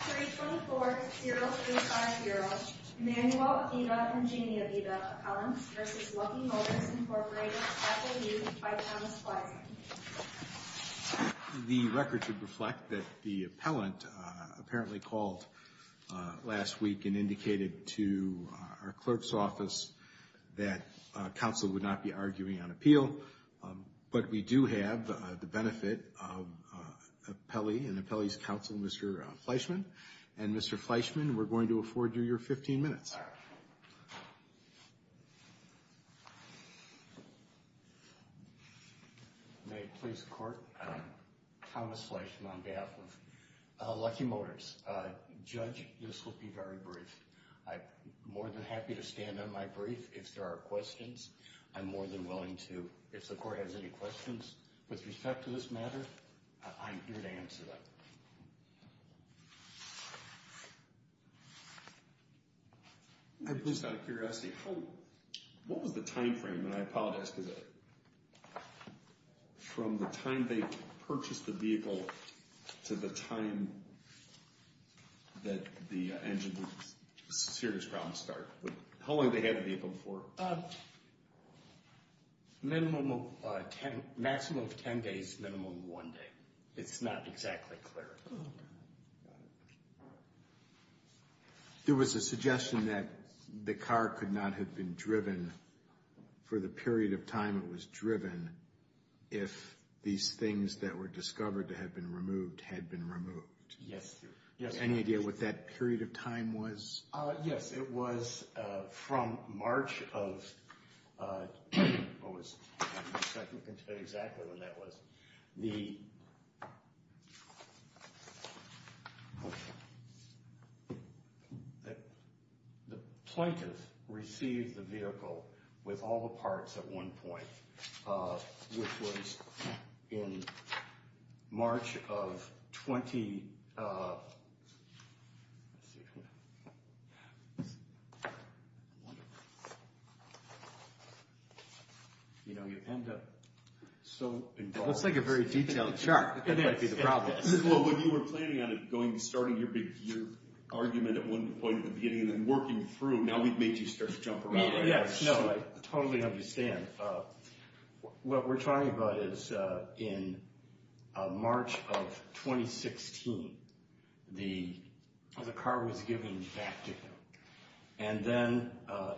Special View by Thomas Fleishman. The record should reflect that the appellant apparently called last week and indicated to our clerk's office that counsel would not be arguing on appeal, but we do have the benefit of an appellee's counsel, Mr. Fleishman, and Mr. Fleishman, we're going to afford you your 15 minutes. May it please the Court, Thomas Fleishman on behalf of Lucky Motors. Judge, this will be very brief. I'm more than happy to stand on my brief if there are questions. I'm more than willing to, if the Court has any questions with respect to this matter, I'm here to answer them. I'm just out of curiosity, what was the time frame, and I apologize, from the time they purchased the vehicle to the time that the engine was a serious problem to start? How long did they have the vehicle for? Minimum of 10, maximum of 10 days, minimum of one day. It's not exactly clear. There was a suggestion that the car could not have been driven for the period of time it was driven if these things that were discovered to have been removed had been removed. Yes, yes. Any idea what that period of time was? Yes, it was from March of... I think I can tell you exactly when that was. The plaintiff received the vehicle with all the parts at one point, which was in March of... You know, you end up so involved. That's like a very detailed chart. That might be the problem. Well, when you were planning on it, starting your argument at one point at the beginning and then working through, now we've made you start to jump around. Yes, no, I totally understand. What we're talking about is in March of 2016, the car was given back to them. And then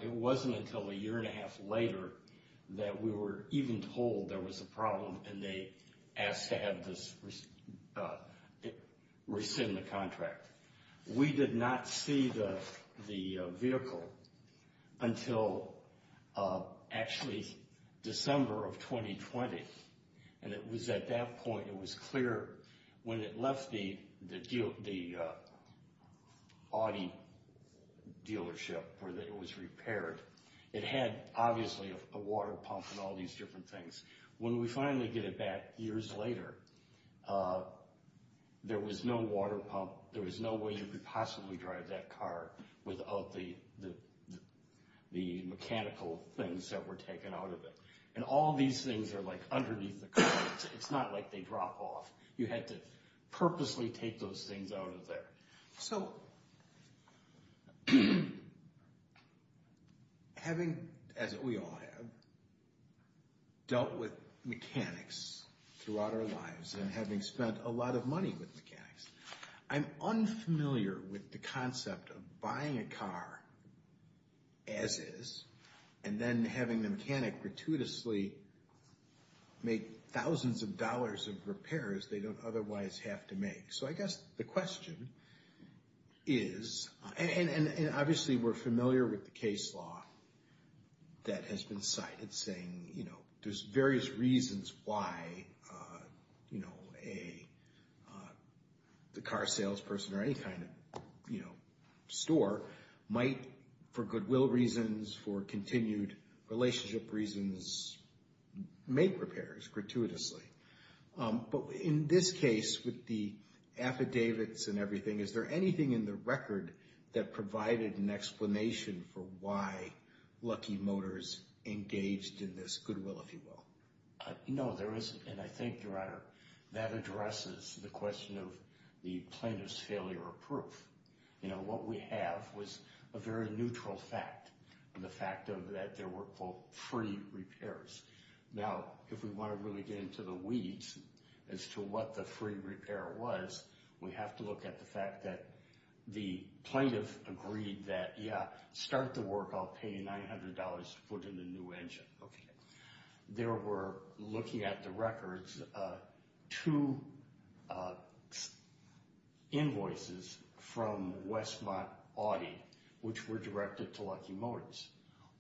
it wasn't until a year and a half later that we were even told there was a problem and they asked to have this... rescind the contract. We did not see the vehicle until actually December of 2020. And it was at that point, it was clear when it left the Audi dealership, where it was repaired, it had obviously a water pump and all these different things. When we finally get it back years later, there was no water pump. There was no way you could possibly drive that car without the mechanical things that were taken out of it. And all these things are like underneath the car. It's not like they drop off. You had to purposely take those things out of there. So, having, as we all have, dealt with mechanics throughout our lives and having spent a lot of money with mechanics, I'm unfamiliar with the concept of buying a car as is and then having the mechanic gratuitously make thousands of dollars of repairs they don't otherwise have to make. So I guess the question is... And obviously we're familiar with the case law that has been cited saying there's various reasons why the car salesperson or any kind of store might, for goodwill reasons, for continued relationship reasons, make repairs gratuitously. But in this case, with the affidavits and everything, is there anything in the record that provided an explanation for why Lucky Motors engaged in this goodwill, if you will? No, there isn't. And I think, Your Honor, that addresses the question of the plaintiff's failure of proof. You know, what we have was a very neutral fact, the fact that there were, quote, free repairs. Now, if we want to really get into the weeds as to what the free repair was, we have to look at the fact that the plaintiff agreed that, yeah, start the work, I'll pay you $900 to put in a new engine. Okay. There were, looking at the records, two invoices from Westmont Audi which were directed to Lucky Motors.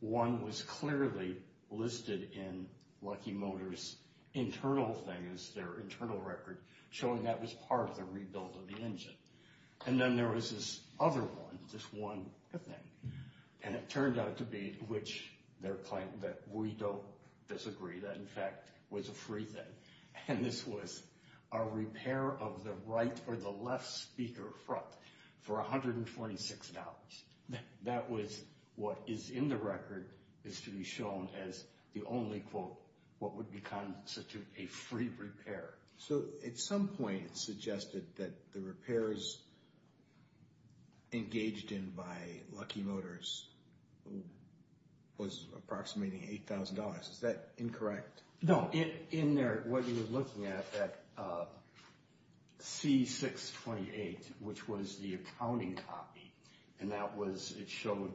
One was clearly listed in Lucky Motors' internal thing, their internal record, showing that was part of the rebuild of the engine. And then there was this other one, this one thing. And it turned out to be, which their claim that we don't disagree, that, in fact, was a free thing. And this was a repair of the right or the left speaker front for $126. That was what is in the record is to be shown as the only, quote, what would constitute a free repair. So at some point it suggested that the repairs engaged in by Lucky Motors was approximating $8,000. Is that incorrect? No. In there, what you're looking at, that C628, which was the accounting copy, and that was, it showed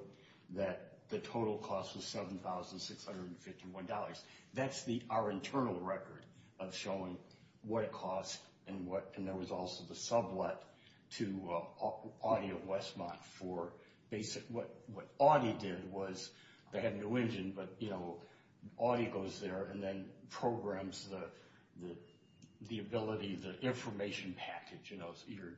that the total cost was $7,651. That's our internal record of showing what it costs and there was also the sublet to Audi of Westmont for basic, what Audi did was, they had a new engine, but, you know, Audi goes there and then programs the ability, the information package, you know, your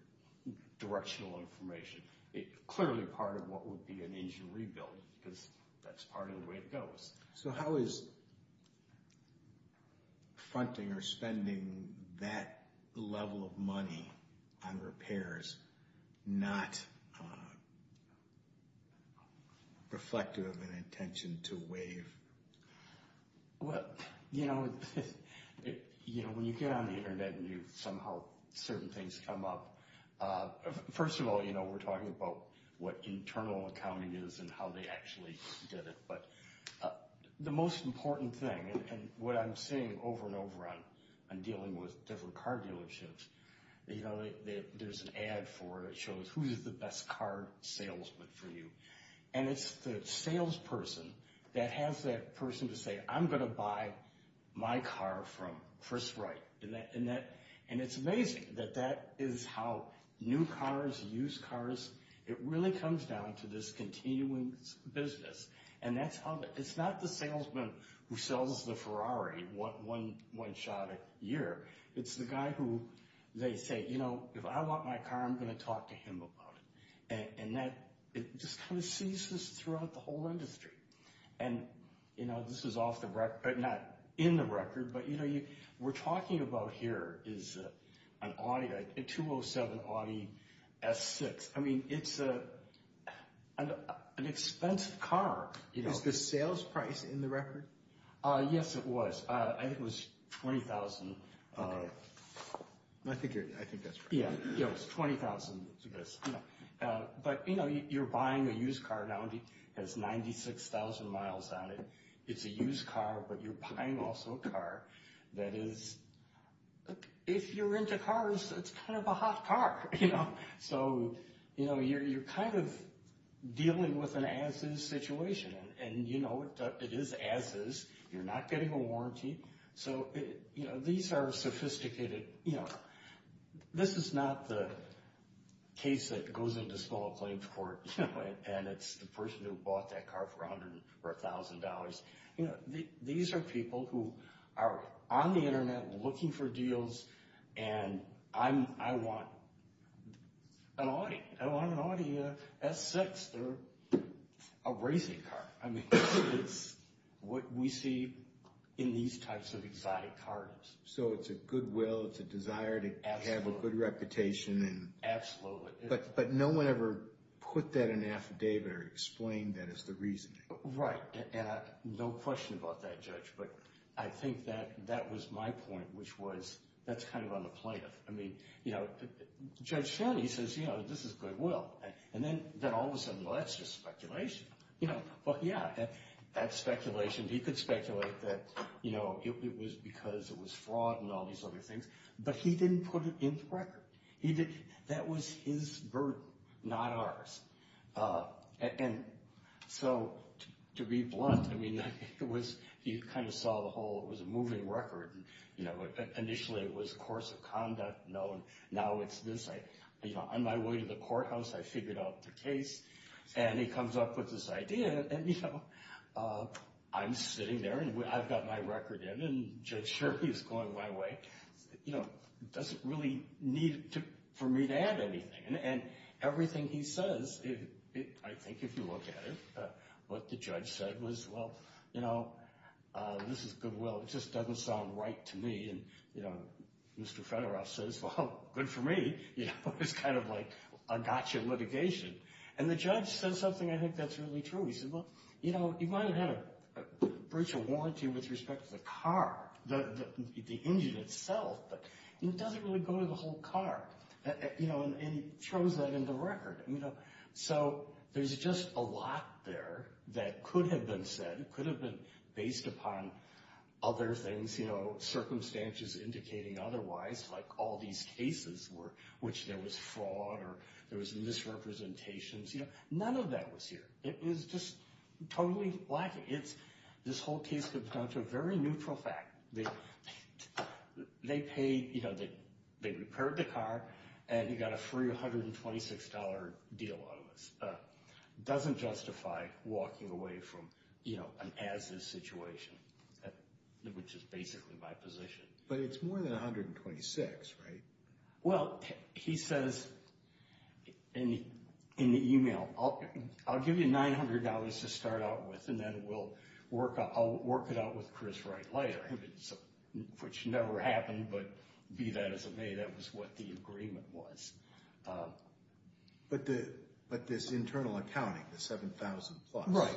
directional information. It's clearly part of what would be an engine rebuild because that's part of the way it goes. So how is fronting or spending that level of money on repairs not reflective of an intention to waive? Well, you know, when you get on the internet and you somehow, certain things come up. First of all, you know, we're talking about what internal accounting is and how they actually did it. But the most important thing, and what I'm seeing over and over on dealing with different car dealerships, you know, there's an ad for it that shows who's the best car salesman for you. And it's the salesperson that has that person to say, I'm going to buy my car from Chris Wright. And it's amazing that that is how new cars, used cars, it really comes down to this continuing business. And that's how, it's not the salesman who sells the Ferrari one shot a year. It's the guy who, they say, you know, if I want my car I'm going to talk to him about it. And that, it just kind of seizes throughout the whole industry. And, you know, this is off the record, not in the record, but you know, we're talking about here is an Audi, a 207 Audi S6. I mean, it's an expensive car. Is the sales price in the record? Yes, it was. I think it was $20,000. I think that's right. Yeah, it was $20,000. But, you know, you're buying a used car now that has 96,000 miles on it. It's a used car, but you're buying also a car that is, if you're into cars, it's kind of a hot car. So, you know, you're kind of dealing with an as-is situation. And, you know, it is as-is. You're not getting a warranty. So, you know, these are sophisticated, you know. This is not the case that goes into small claims court, you know, and it's the person who bought that car for $100,000 or $1,000. You know, these are people who are on the Internet looking for deals, and I want an Audi. I want an Audi S6. They're a racing car. I mean, it's what we see in these types of exotic cars. So it's a goodwill, it's a desire to have a good reputation. Absolutely. But no one ever put that in an affidavit or explained that as the reasoning. Right. No question about that, Judge. But I think that that was my point, which was that's kind of on the plaintiff. I mean, you know, Judge Fannie says, you know, this is goodwill. And then all of a sudden, well, that's just speculation. You know, well, yeah, that's speculation. He could speculate that, you know, it was because it was fraud and all these other things. But he didn't put it in the record. He didn't. That was his burden, not ours. And so, to be blunt, I mean, it was, you kind of saw the whole, it was a moving record. Initially, it was a course of conduct. Now it's this. You know, on my way to the courthouse, I figured out the case. And he comes up with this idea. And, you know, I'm sitting there, and I've got my record in, and Judge Sherry is going my way. You know, it doesn't really need for me to add anything. And everything he says, I think if you look at it, what the judge said was, well, you know, this is goodwill. It just doesn't sound right to me. And, you know, Mr. Federoff says, well, good for me. You know, it's kind of like a gotcha litigation. And the judge says something, I think that's really true. He said, well, you know, you might have had a breach of warranty with respect to the car, the engine itself, but it doesn't really go to the whole car. And he throws that in the record. So there's just a lot there that could have been said, could have been based upon other things, you know, circumstances indicating otherwise, like all these cases which there was fraud or there was misrepresentations, you know, none of that was here. It was just totally lacking. This whole case comes down to a very neutral fact. They paid, you know, they repaired the car and he got a free $126 deal out of us. Doesn't justify walking away from, you know, an as-is situation, which is basically my position. But it's more than $126, right? Well, he says in the email, I'll give you $900 to start out with and then I'll work it out with Chris Wright later, which never happened, but be that as it may, that was what the agreement was. But this internal accounting, the $7,000 plus,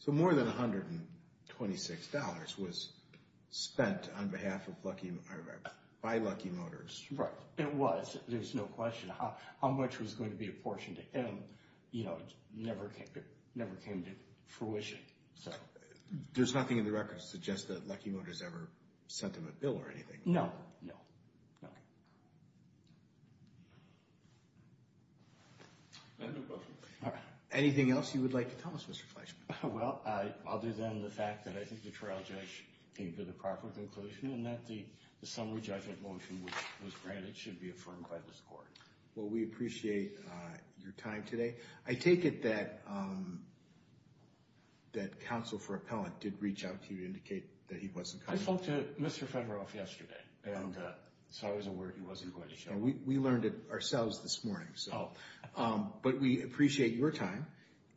so more than $126 was spent on behalf of by Lucky Motors. Right. It was. There's no question. How much was going to be apportioned to him, you know, never came to fruition. There's nothing in the record that suggests that Lucky Motors ever sent them a bill or anything? No. Anything else you would like to tell us, Mr. Fleischman? Well, other than the fact that I think the trial judge came to the proper conclusion and that the summary judgment motion was granted should be affirmed by this Court. Well, we appreciate your time today. I take it that that counsel for appellant did reach out to you to indicate that he wasn't coming? I spoke to Mr. Federoff yesterday and so I was aware he wasn't going to show up. We learned it ourselves this morning. But we appreciate your time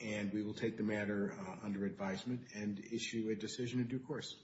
and we will take the matter under advisement and issue a decision in due course.